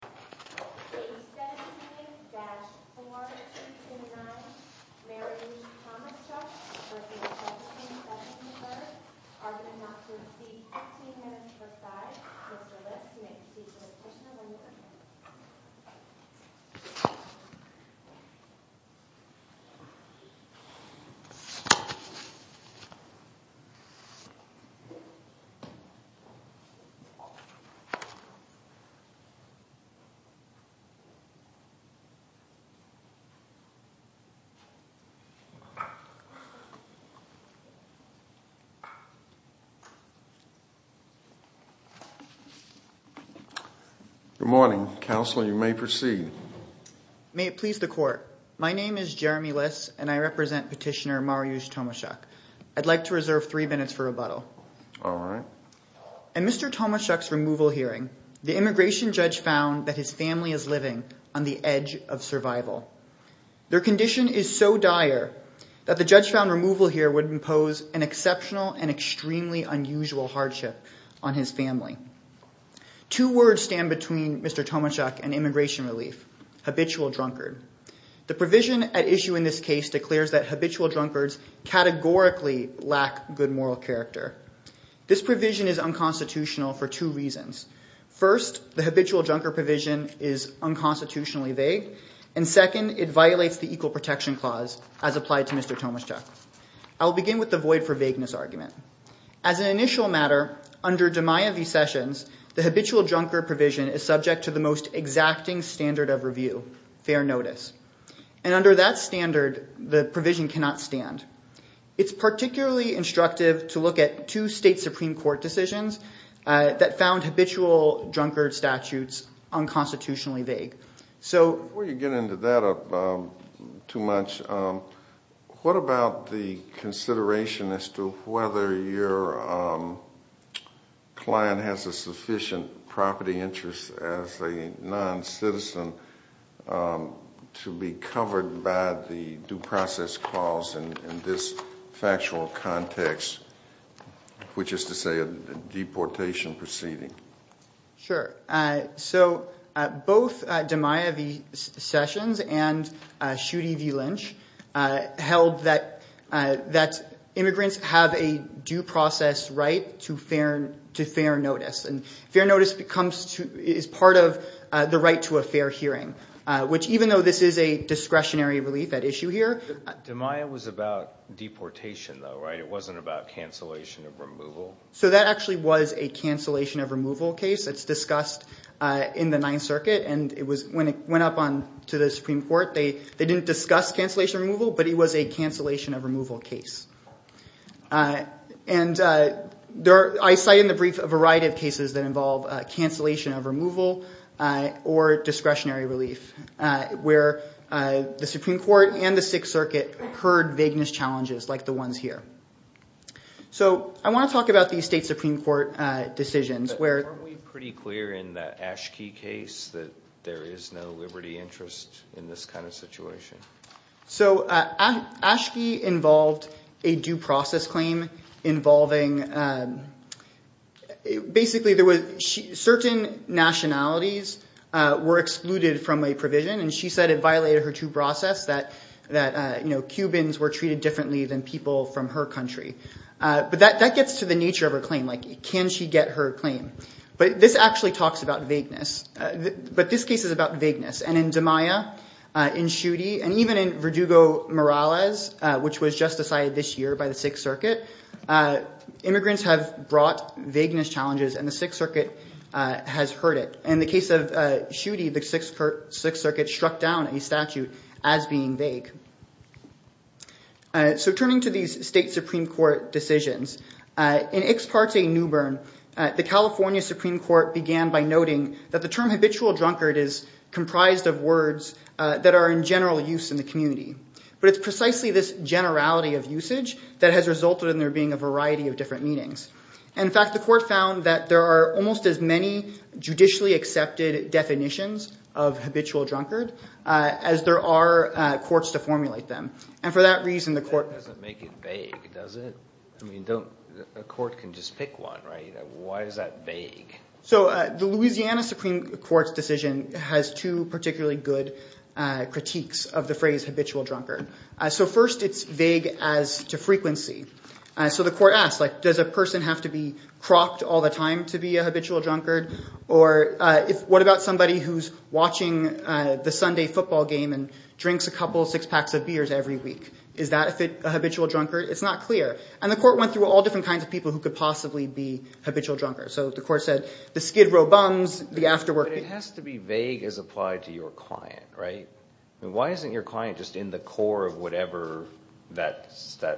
Page 17-429, Mariusz Tomaszczuk v. Jefferson Sessions III are going to have to receive 15 minutes per side. Mr. Lips, you may proceed to the question and answer. Good morning, Counselor, you may proceed. May it please the Court, my name is Jeremy Lips and I represent Petitioner Mariusz Tomaszczuk. I'd like to reserve three minutes for rebuttal. All right. In Mr. Tomaszczuk's removal hearing, the immigration judge found that his family is living on the edge of survival. Their condition is so dire that the judge found removal here would impose an exceptional and extremely unusual hardship on his family. Two words stand between Mr. Tomaszczuk and immigration relief, habitual drunkard. The provision at issue in this case declares that habitual drunkards categorically lack good moral character. This provision is unconstitutional for two reasons. First, the habitual drunkard provision is unconstitutionally vague. And second, it violates the Equal Protection Clause as applied to Mr. Tomaszczuk. I'll begin with the void for vagueness argument. As an initial matter, under DeMaia v. Sessions, the habitual drunkard provision is subject to the most exacting standard of review, fair notice. And under that standard, the provision cannot stand. It's particularly instructive to look at two state Supreme Court decisions that found habitual drunkard statutes unconstitutionally vague. So- in this factual context, which is to say a deportation proceeding. Sure. So both DeMaia v. Sessions and Schuette v. Lynch held that immigrants have a due process right to fair notice. And fair notice is part of the right to a fair hearing, which even though this is a discretionary relief at issue here- DeMaia was about deportation though, right? It wasn't about cancellation of removal? So that actually was a cancellation of removal case. It's discussed in the Ninth Circuit. And when it went up to the Supreme Court, they didn't discuss cancellation of removal, but it was a cancellation of removal case. And I cite in the brief a variety of cases that involve cancellation of removal or discretionary relief, where the Supreme Court and the Sixth Circuit heard vagueness challenges like the ones here. So I want to talk about these state Supreme Court decisions where- But aren't we pretty clear in the Ashkey case that there is no liberty interest in this kind of situation? So Ashkey involved a due process claim involving- Basically there was- certain nationalities were excluded from a provision, and she said it violated her due process that Cubans were treated differently than people from her country. But that gets to the nature of her claim. Like can she get her claim? But this actually talks about vagueness. But this case is about vagueness. And in Demaya, in Schuette, and even in Verdugo-Morales, which was just decided this year by the Sixth Circuit, immigrants have brought vagueness challenges and the Sixth Circuit has heard it. In the case of Schuette, the Sixth Circuit struck down a statute as being vague. So turning to these state Supreme Court decisions, in Ix Parte Newbern, the California Supreme Court began by noting that the term habitual drunkard is comprised of words that are in general use in the community. But it's precisely this generality of usage that has resulted in there being a variety of different meanings. In fact, the court found that there are almost as many judicially accepted definitions of habitual drunkard as there are courts to formulate them. And for that reason, the court- It doesn't make it vague, does it? I mean, a court can just pick one, right? Why is that vague? So the Louisiana Supreme Court's decision has two particularly good critiques of the phrase habitual drunkard. So first, it's vague as to frequency. So the court asks, like, does a person have to be crocked all the time to be a habitual drunkard? Or what about somebody who's watching the Sunday football game and drinks a couple six packs of beers every week? Is that a habitual drunkard? It's not clear. And the court went through all different kinds of people who could possibly be habitual drunkards. So the court said the skid row bums, the after work- But it has to be vague as applied to your client, right? I mean, why isn't your client just in the core of whatever that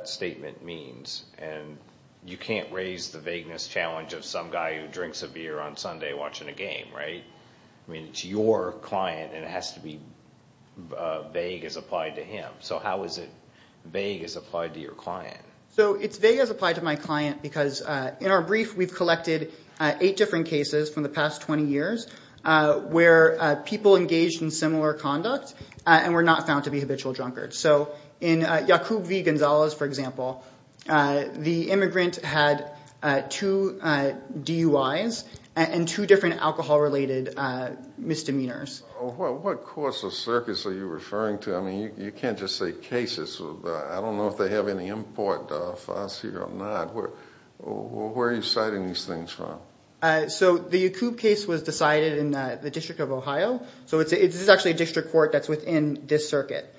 statement means? And you can't raise the vagueness challenge of some guy who drinks a beer on Sunday watching a game, right? I mean, it's your client, and it has to be vague as applied to him. So how is it vague as applied to your client? So it's vague as applied to my client because in our brief, we've collected eight different cases from the past 20 years where people engaged in similar conduct and were not found to be habitual drunkards. So in Yacoub v. Gonzalez, for example, the immigrant had two DUIs and two different alcohol-related misdemeanors. What courts or circuits are you referring to? I mean, you can't just say cases. I don't know if they have any import for us here or not. Where are you citing these things from? So the Yacoub case was decided in the District of Ohio. So this is actually a district court that's within this circuit.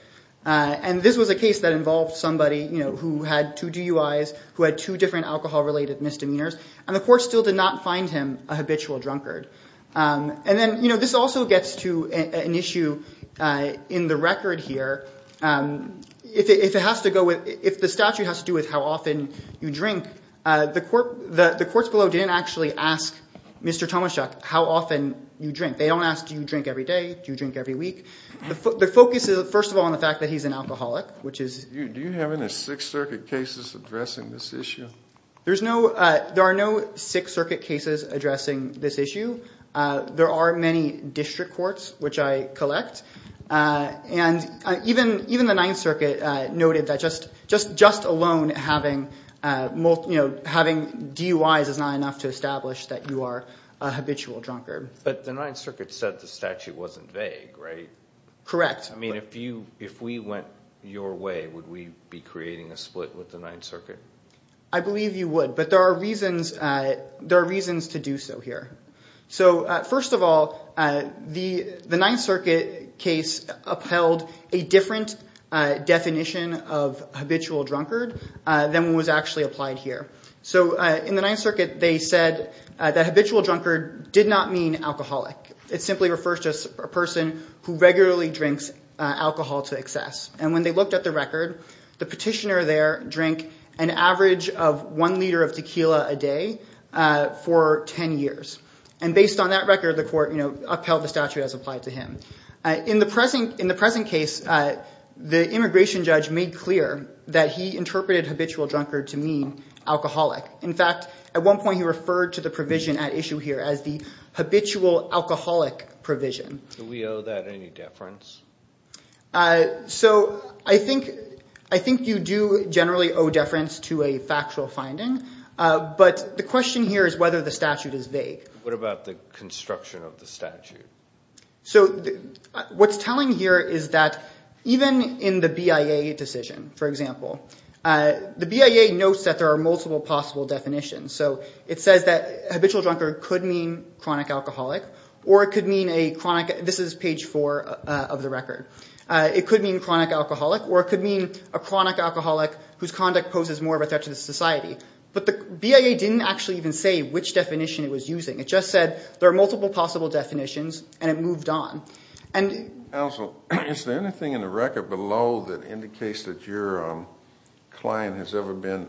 And this was a case that involved somebody who had two DUIs, who had two different alcohol-related misdemeanors, and the court still did not find him a habitual drunkard. And then this also gets to an issue in the record here. If the statute has to do with how often you drink, the courts below didn't actually ask Mr. Tomaschuk how often you drink. They don't ask do you drink every day, do you drink every week. The focus is, first of all, on the fact that he's an alcoholic, which is— Do you have any Sixth Circuit cases addressing this issue? There are no Sixth Circuit cases addressing this issue. There are many district courts, which I collect. And even the Ninth Circuit noted that just alone having DUIs is not enough to establish that you are a habitual drunkard. But the Ninth Circuit said the statute wasn't vague, right? Correct. I mean, if we went your way, would we be creating a split with the Ninth Circuit? I believe you would, but there are reasons to do so here. So first of all, the Ninth Circuit case upheld a different definition of habitual drunkard than was actually applied here. So in the Ninth Circuit, they said that habitual drunkard did not mean alcoholic. It simply refers to a person who regularly drinks alcohol to excess. And when they looked at the record, the petitioner there drank an average of one liter of tequila a day for 10 years. And based on that record, the court upheld the statute as applied to him. In the present case, the immigration judge made clear that he interpreted habitual drunkard to mean alcoholic. In fact, at one point he referred to the provision at issue here as the habitual alcoholic provision. Do we owe that any deference? So I think you do generally owe deference to a factual finding, but the question here is whether the statute is vague. What about the construction of the statute? So what's telling here is that even in the BIA decision, for example, the BIA notes that there are multiple possible definitions. So it says that habitual drunkard could mean chronic alcoholic, or it could mean a chronic ‑‑ this is page 4 of the record. It could mean chronic alcoholic, or it could mean a chronic alcoholic whose conduct poses more of a threat to the society. But the BIA didn't actually even say which definition it was using. It just said there are multiple possible definitions, and it moved on. Counsel, is there anything in the record below that indicates that your client has ever been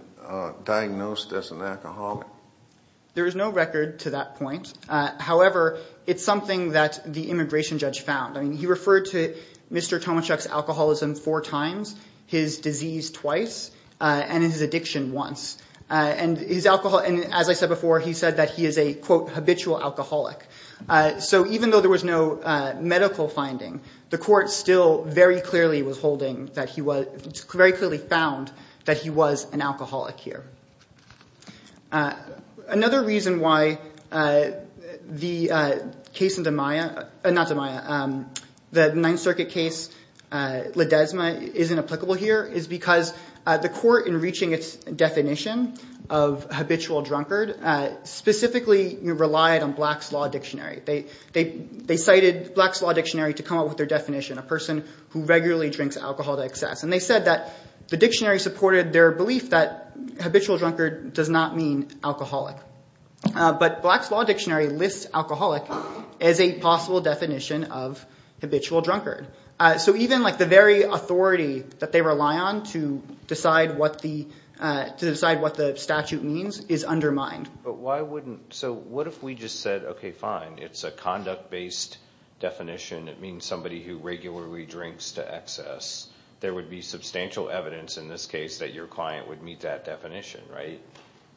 diagnosed as an alcoholic? There is no record to that point. However, it's something that the immigration judge found. I mean, he referred to Mr. Tomachuk's alcoholism four times, his disease twice, and his addiction once. And as I said before, he said that he is a, quote, habitual alcoholic. So even though there was no medical finding, the court still very clearly was holding that he was ‑‑ very clearly found that he was an alcoholic here. Another reason why the case in the Maya ‑‑ not the Maya, the Ninth Circuit case, Ledesma, isn't applicable here, is because the court, in reaching its definition of habitual drunkard, specifically relied on Black's Law Dictionary. They cited Black's Law Dictionary to come up with their definition, a person who regularly drinks alcohol to excess. And they said that the dictionary supported their belief that habitual drunkard does not mean alcoholic. But Black's Law Dictionary lists alcoholic as a possible definition of habitual drunkard. So even, like, the very authority that they rely on to decide what the statute means is undermined. But why wouldn't ‑‑ so what if we just said, okay, fine, it's a conduct‑based definition. It means somebody who regularly drinks to excess. There would be substantial evidence in this case that your client would meet that definition, right?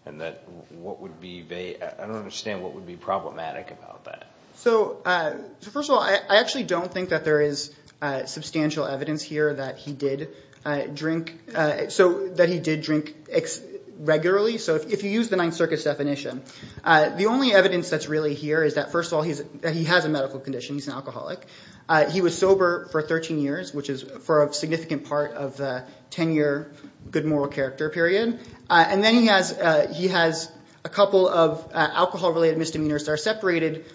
And that what would be ‑‑ I don't understand what would be problematic about that. So first of all, I actually don't think that there is substantial evidence here that he did drink regularly. So if you use the Ninth Circuit's definition, the only evidence that's really here is that, first of all, he has a medical condition. He's an alcoholic. He was sober for 13 years, which is for a significant part of the 10‑year good moral character period. And then he has a couple of alcohol‑related misdemeanors that are separated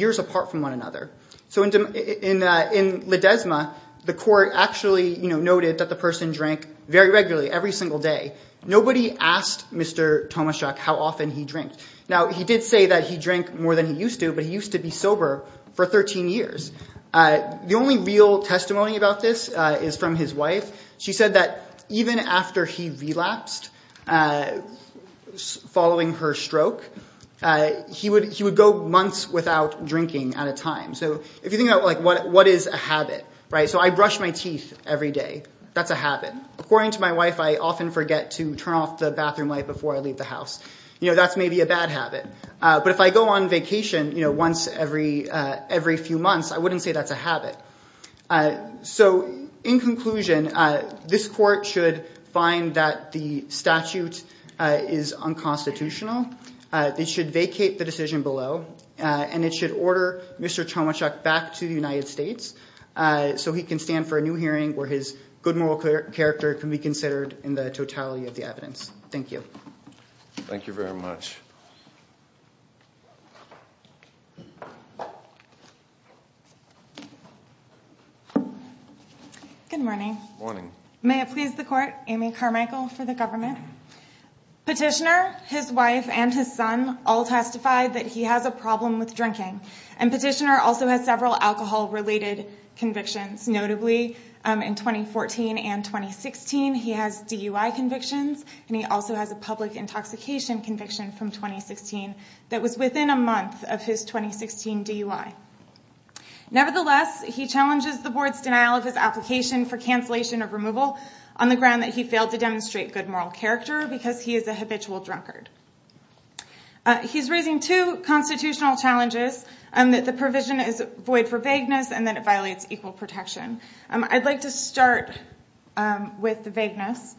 years apart from one another. So in Ledesma, the court actually noted that the person drank very regularly, every single day. Nobody asked Mr. Tomaszek how often he drank. Now, he did say that he drank more than he used to, but he used to be sober for 13 years. The only real testimony about this is from his wife. She said that even after he relapsed following her stroke, he would go months without drinking at a time. So if you think about what is a habit, right? So I brush my teeth every day. That's a habit. According to my wife, I often forget to turn off the bathroom light before I leave the house. That's maybe a bad habit. But if I go on vacation once every few months, I wouldn't say that's a habit. So in conclusion, this court should find that the statute is unconstitutional. It should vacate the decision below, and it should order Mr. Tomaszek back to the United States so he can stand for a new hearing where his good moral character can be considered in the totality of the evidence. Thank you. Thank you very much. Good morning. Morning. May it please the court, Amy Carmichael for the government. Petitioner, his wife, and his son all testified that he has a problem with drinking, and Petitioner also has several alcohol-related convictions. Notably, in 2014 and 2016, he has DUI convictions, and he also has a public intoxication conviction from 2016 that was within a month of his 2016 DUI. Nevertheless, he challenges the board's denial of his application for cancellation of removal on the ground that he failed to demonstrate good moral character because he is a habitual drunkard. He's raising two constitutional challenges, that the provision is void for vagueness and that it violates equal protection. I'd like to start with the vagueness.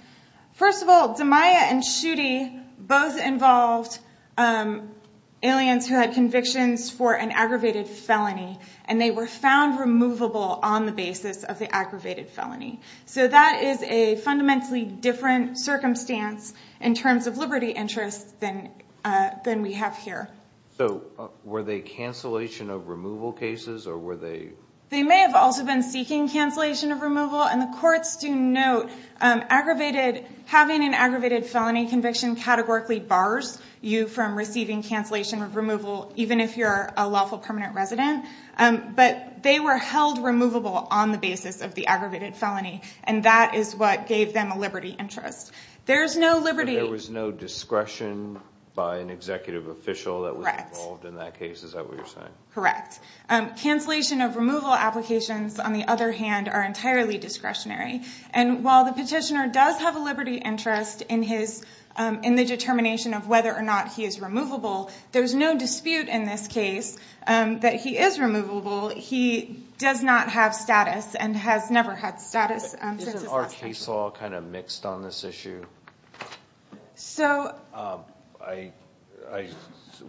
First of all, Zamiya and Schutte both involved aliens who had convictions for an aggravated felony, and they were found removable on the basis of the aggravated felony. So that is a fundamentally different circumstance in terms of liberty interests than we have here. So were they cancellation of removal cases? They may have also been seeking cancellation of removal, and the courts do note having an aggravated felony conviction categorically bars you from receiving cancellation of removal, even if you're a lawful permanent resident. But they were held removable on the basis of the aggravated felony, and that is what gave them a liberty interest. There was no discretion by an executive official that was involved in that case? Is that what you're saying? Correct. Cancellation of removal applications, on the other hand, are entirely discretionary. And while the petitioner does have a liberty interest in the determination of whether or not he is removable, there's no dispute in this case that he is removable. He does not have status and has never had status since his last petition. Is this all kind of mixed on this issue?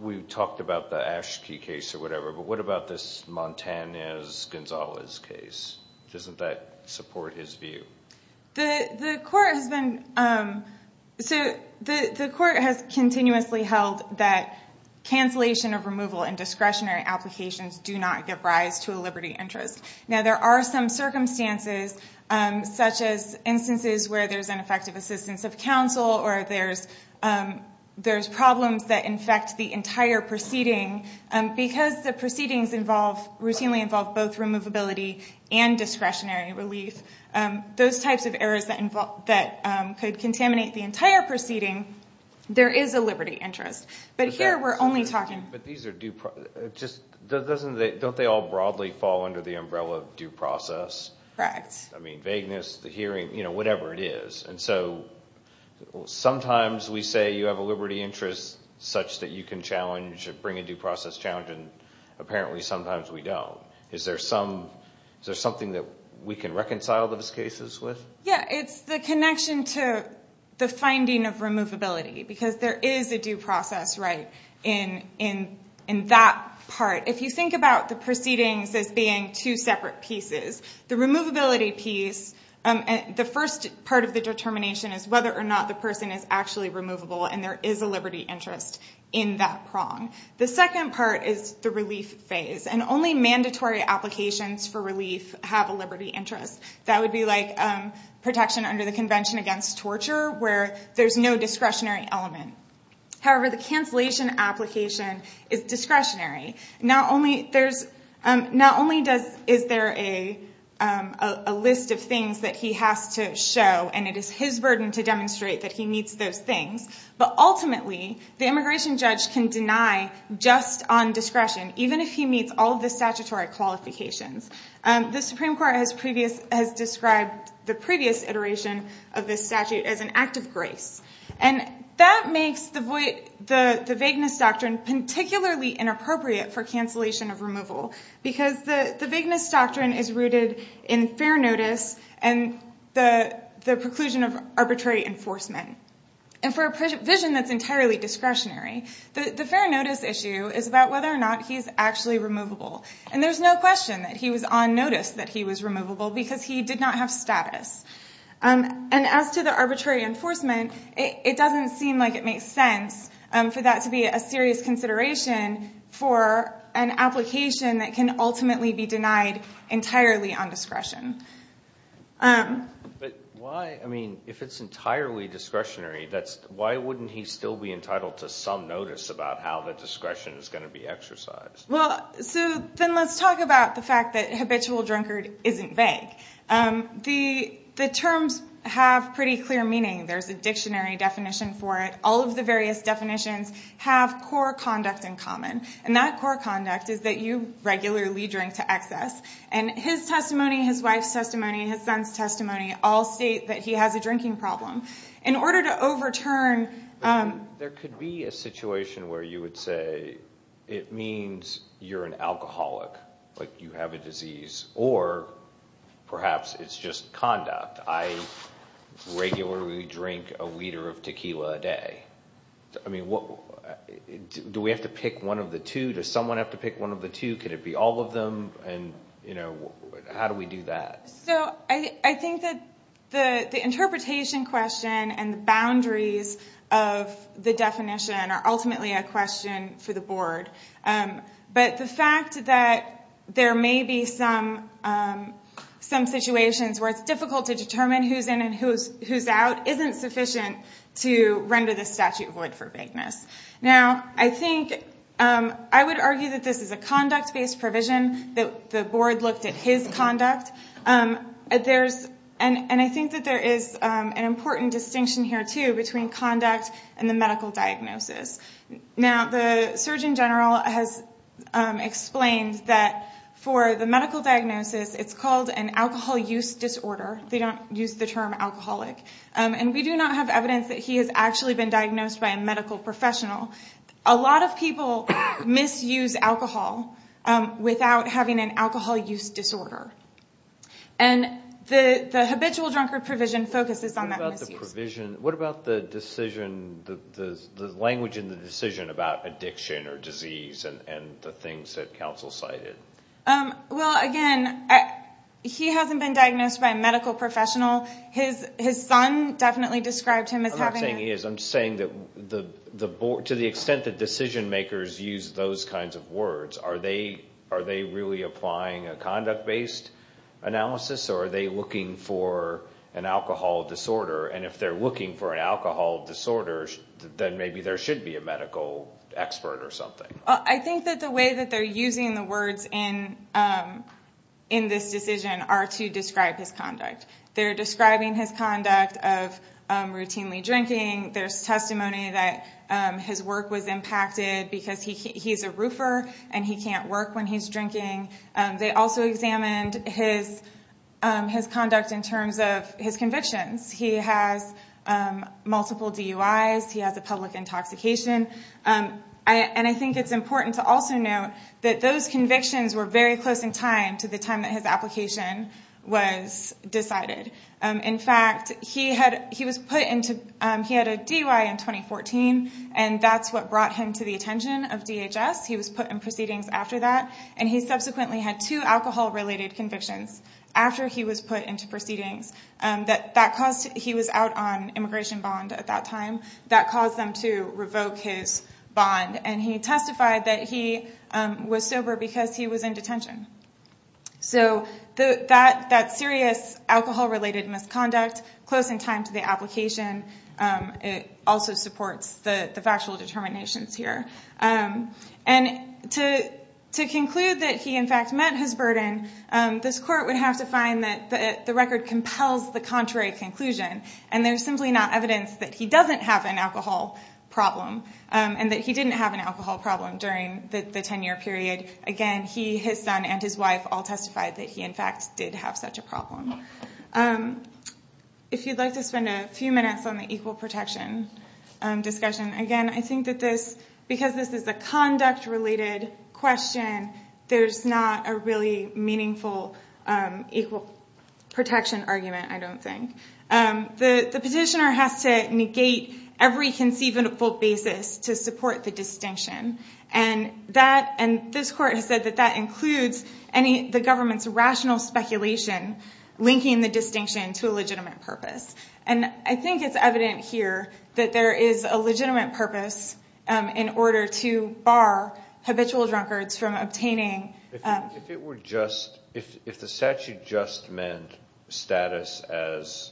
We've talked about the Ashkey case or whatever, but what about this Montanez-Gonzalez case? Doesn't that support his view? The court has continuously held that cancellation of removal and discretionary applications do not give rise to a liberty interest. Now, there are some circumstances, such as instances where there's ineffective assistance of counsel or there's problems that infect the entire proceeding. Because the proceedings routinely involve both removability and discretionary relief, those types of errors that could contaminate the entire proceeding, there is a liberty interest. But don't they all broadly fall under the umbrella of due process? Correct. I mean, vagueness, the hearing, whatever it is. Sometimes we say you have a liberty interest such that you can bring a due process challenge, and apparently sometimes we don't. Is there something that we can reconcile those cases with? Yeah, it's the connection to the finding of removability, because there is a due process right in that part. If you think about the proceedings as being two separate pieces, the first part of the determination is whether or not the person is actually removable and there is a liberty interest in that prong. The second part is the relief phase, and only mandatory applications for relief have a liberty interest. That would be like protection under the Convention Against Torture, where there's no discretionary element. However, the cancellation application is discretionary. Not only is there a list of things that he has to show, and it is his burden to demonstrate that he meets those things, but ultimately the immigration judge can deny just on discretion, even if he meets all of the statutory qualifications. The Supreme Court has described the previous iteration of this statute as an act of grace, and that makes the vagueness doctrine particularly inappropriate for cancellation of removal, because the vagueness doctrine is rooted in fair notice and the preclusion of arbitrary enforcement. And for a provision that's entirely discretionary, the fair notice issue is about whether or not he's actually removable, and there's no question that he was on notice that he was removable because he did not have status. And as to the arbitrary enforcement, it doesn't seem like it makes sense for that to be a serious consideration for an application that can ultimately be denied entirely on discretion. But why? I mean, if it's entirely discretionary, why wouldn't he still be entitled to some notice about how the discretion is going to be exercised? Well, so then let's talk about the fact that habitual drunkard isn't vague. The terms have pretty clear meaning. There's a dictionary definition for it. All of the various definitions have core conduct in common, and that core conduct is that you regularly drink to excess. And his testimony, his wife's testimony, his son's testimony all state that he has a drinking problem. In order to overturn... There could be a situation where you would say it means you're an alcoholic, like you have a disease, or perhaps it's just conduct. I regularly drink a liter of tequila a day. I mean, do we have to pick one of the two? Does someone have to pick one of the two? Could it be all of them? And, you know, how do we do that? So I think that the interpretation question and the boundaries of the definition are ultimately a question for the board. But the fact that there may be some situations where it's difficult to determine who's in and who's out isn't sufficient to render the statute void for vagueness. Now, I think... I would argue that this is a conduct-based provision, that the board looked at his conduct. And I think that there is an important distinction here, too, between conduct and the medical diagnosis. Now, the Surgeon General has explained that for the medical diagnosis, it's called an alcohol use disorder. They don't use the term alcoholic. And we do not have evidence that he has actually been diagnosed by a medical professional. A lot of people misuse alcohol without having an alcohol use disorder. And the habitual drunkard provision focuses on that misuse. What about the language in the decision about addiction or disease and the things that counsel cited? Well, again, he hasn't been diagnosed by a medical professional. His son definitely described him as having a... I'm not saying he is. I'm saying that to the extent that decision-makers use those kinds of words, are they really applying a conduct-based analysis, or are they looking for an alcohol disorder? And if they're looking for an alcohol disorder, then maybe there should be a medical expert or something. I think that the way that they're using the words in this decision are to describe his conduct. They're describing his conduct of routinely drinking. There's testimony that his work was impacted because he's a roofer and he can't work when he's drinking. They also examined his conduct in terms of his convictions. He has multiple DUIs. He has a public intoxication. And I think it's important to also note that those convictions were very close in time to the time that his application was decided. In fact, he had a DUI in 2014, and that's what brought him to the attention of DHS. He was put in proceedings after that, and he subsequently had two alcohol-related convictions after he was put into proceedings. He was out on immigration bond at that time. That caused them to revoke his bond, and he testified that he was sober because he was in detention. So that serious alcohol-related misconduct close in time to the application also supports the factual determinations here. And to conclude that he, in fact, met his burden, this court would have to find that the record compels the contrary conclusion, and there's simply not evidence that he doesn't have an alcohol problem, and that he didn't have an alcohol problem during the 10-year period. Again, he, his son, and his wife all testified that he, in fact, did have such a problem. If you'd like to spend a few minutes on the equal protection discussion, again, I think that because this is a conduct-related question, there's not a really meaningful equal protection argument, I don't think. The petitioner has to negate every conceivable basis to support the distinction, and this court has said that that includes the government's rational speculation linking the distinction to a legitimate purpose. And I think it's evident here that there is a legitimate purpose in order to bar habitual drunkards from obtaining... If it were just, if the statute just meant status as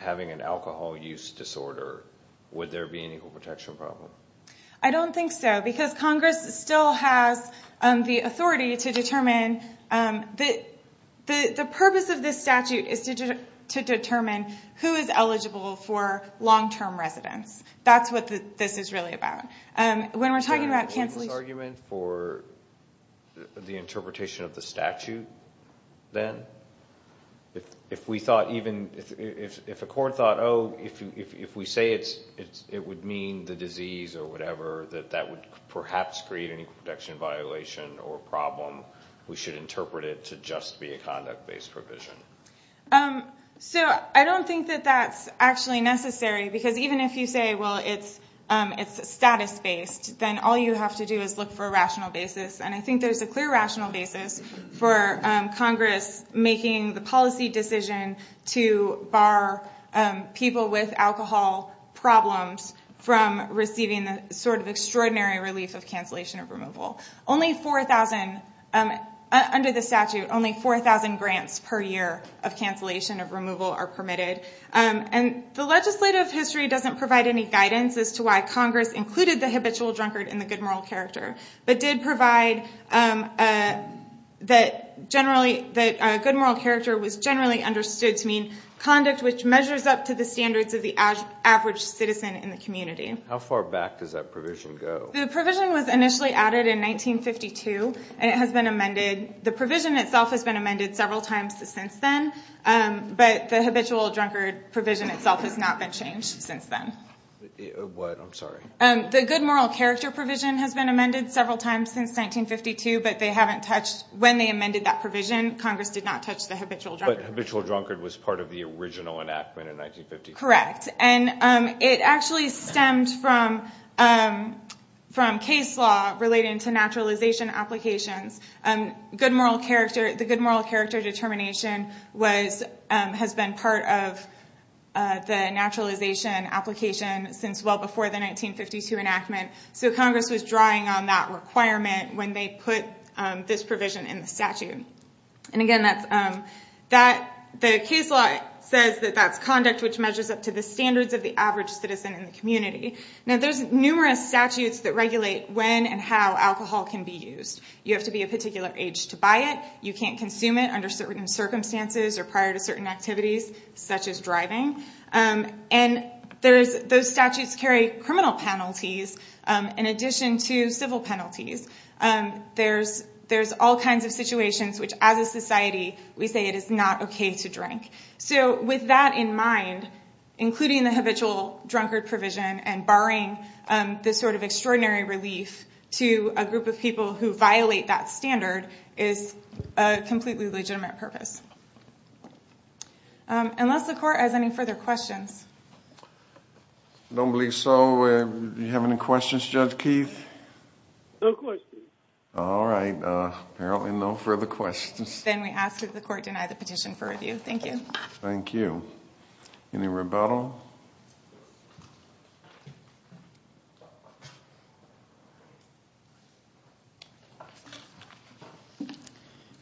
having an alcohol use disorder, would there be an equal protection problem? I don't think so, because Congress still has the authority to determine, the purpose of this statute is to determine who is eligible for long-term residence. That's what this is really about. Is there an equivalent argument for the interpretation of the statute, then? If we thought even, if a court thought, oh, if we say it would mean the disease or whatever, that that would perhaps create an equal protection violation or problem, we should interpret it to just be a conduct-based provision. So I don't think that that's actually necessary, because even if you say, well, it's status-based, then all you have to do is look for a rational basis, and I think there's a clear rational basis for Congress making the policy decision to bar people with alcohol problems from receiving the sort of extraordinary relief of cancellation of removal. Only 4,000, under the statute, only 4,000 grants per year of cancellation of removal are permitted. And the legislative history doesn't provide any guidance as to why Congress included the habitual drunkard in the good moral character, but did provide that a good moral character was generally understood to mean conduct which measures up to the standards of the average citizen in the community. How far back does that provision go? The provision was initially added in 1952, and it has been amended. The provision itself has been amended several times since then, but the habitual drunkard provision itself has not been changed since then. What? I'm sorry. The good moral character provision has been amended several times since 1952, but they haven't touched when they amended that provision. Congress did not touch the habitual drunkard. But habitual drunkard was part of the original enactment in 1952. Correct. And it actually stemmed from case law relating to naturalization applications. The good moral character determination has been part of the naturalization application since well before the 1952 enactment. So Congress was drawing on that requirement when they put this provision in the statute. And again, the case law says that that's conduct which measures up to the standards of the average citizen in the community. Now, there's numerous statutes that regulate when and how alcohol can be used. You have to be a particular age to buy it. You can't consume it under certain circumstances or prior to certain activities, such as driving. And those statutes carry criminal penalties in addition to civil penalties. There's all kinds of situations which, as a society, we say it is not okay to drink. So with that in mind, including the habitual drunkard provision and barring this sort of extraordinary relief to a group of people who violate that standard is a completely legitimate purpose. Unless the court has any further questions. I don't believe so. Do you have any questions, Judge Keith? No questions. All right. Apparently no further questions. Then we ask that the court deny the petition for review. Thank you. Thank you. Any rebuttal?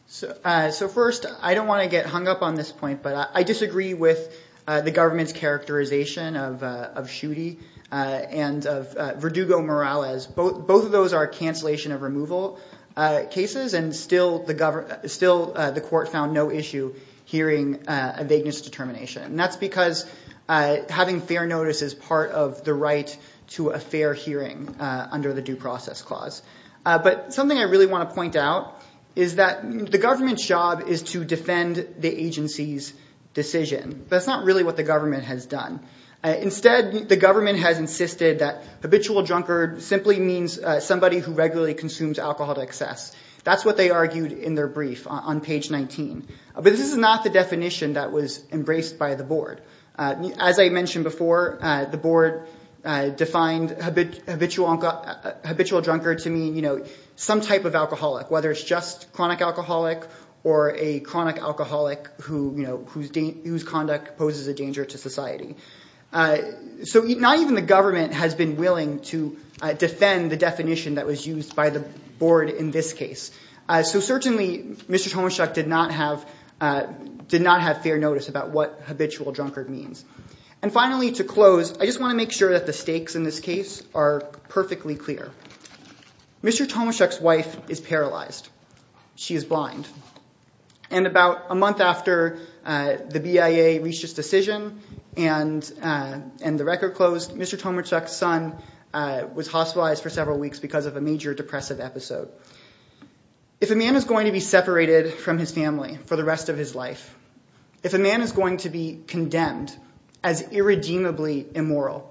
So first, I don't want to get hung up on this point, but I disagree with the government's characterization of Schuette and Verdugo-Morales. Both of those are cancellation of removal cases, and still the court found no issue hearing a vagueness determination. And that's because having fair notice is part of the right to a fair hearing under the Due Process Clause. But something I really want to point out is that the government's job is to defend the agency's decision. That's not really what the government has done. Instead, the government has insisted that habitual drunkard simply means somebody who regularly consumes alcohol to excess. That's what they argued in their brief on page 19. But this is not the definition that was embraced by the board. As I mentioned before, the board defined habitual drunkard to mean some type of alcoholic, whether it's just chronic alcoholic or a chronic alcoholic whose conduct poses a danger to society. So not even the government has been willing to defend the definition that was used by the board in this case. So certainly Mr. Tomaszuk did not have fair notice about what habitual drunkard means. And finally, to close, I just want to make sure that the stakes in this case are perfectly clear. Mr. Tomaszuk's wife is paralyzed. She is blind. And about a month after the BIA reached its decision and the record closed, Mr. Tomaszuk's son was hospitalized for several weeks because of a major depressive episode. If a man is going to be separated from his family for the rest of his life, if a man is going to be condemned as irredeemably immoral,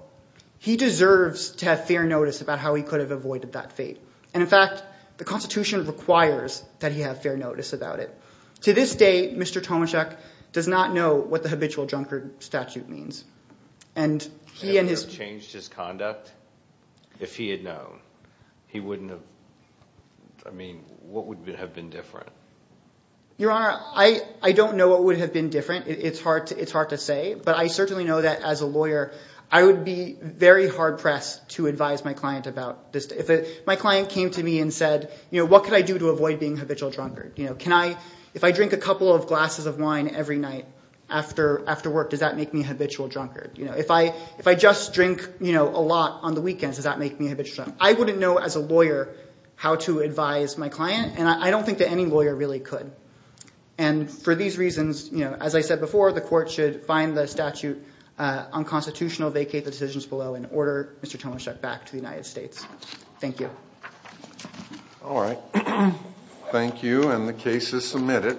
he deserves to have fair notice about how he could have avoided that fate. And in fact, the Constitution requires that he have fair notice about it. To this day, Mr. Tomaszuk does not know what the habitual drunkard statute means. And he and his— Would it have changed his conduct if he had known? He wouldn't have—I mean, what would have been different? Your Honor, I don't know what would have been different. It's hard to say. But I certainly know that as a lawyer, I would be very hard-pressed to advise my client about this. If my client came to me and said, you know, what could I do to avoid being a habitual drunkard? Can I—if I drink a couple of glasses of wine every night after work, does that make me a habitual drunkard? If I just drink a lot on the weekends, does that make me a habitual drunkard? I wouldn't know as a lawyer how to advise my client, and I don't think that any lawyer really could. And for these reasons, as I said before, the court should find the statute unconstitutional, vacate the decisions below, and order Mr. Tomaszuk back to the United States. Thank you. All right. Thank you, and the case is submitted.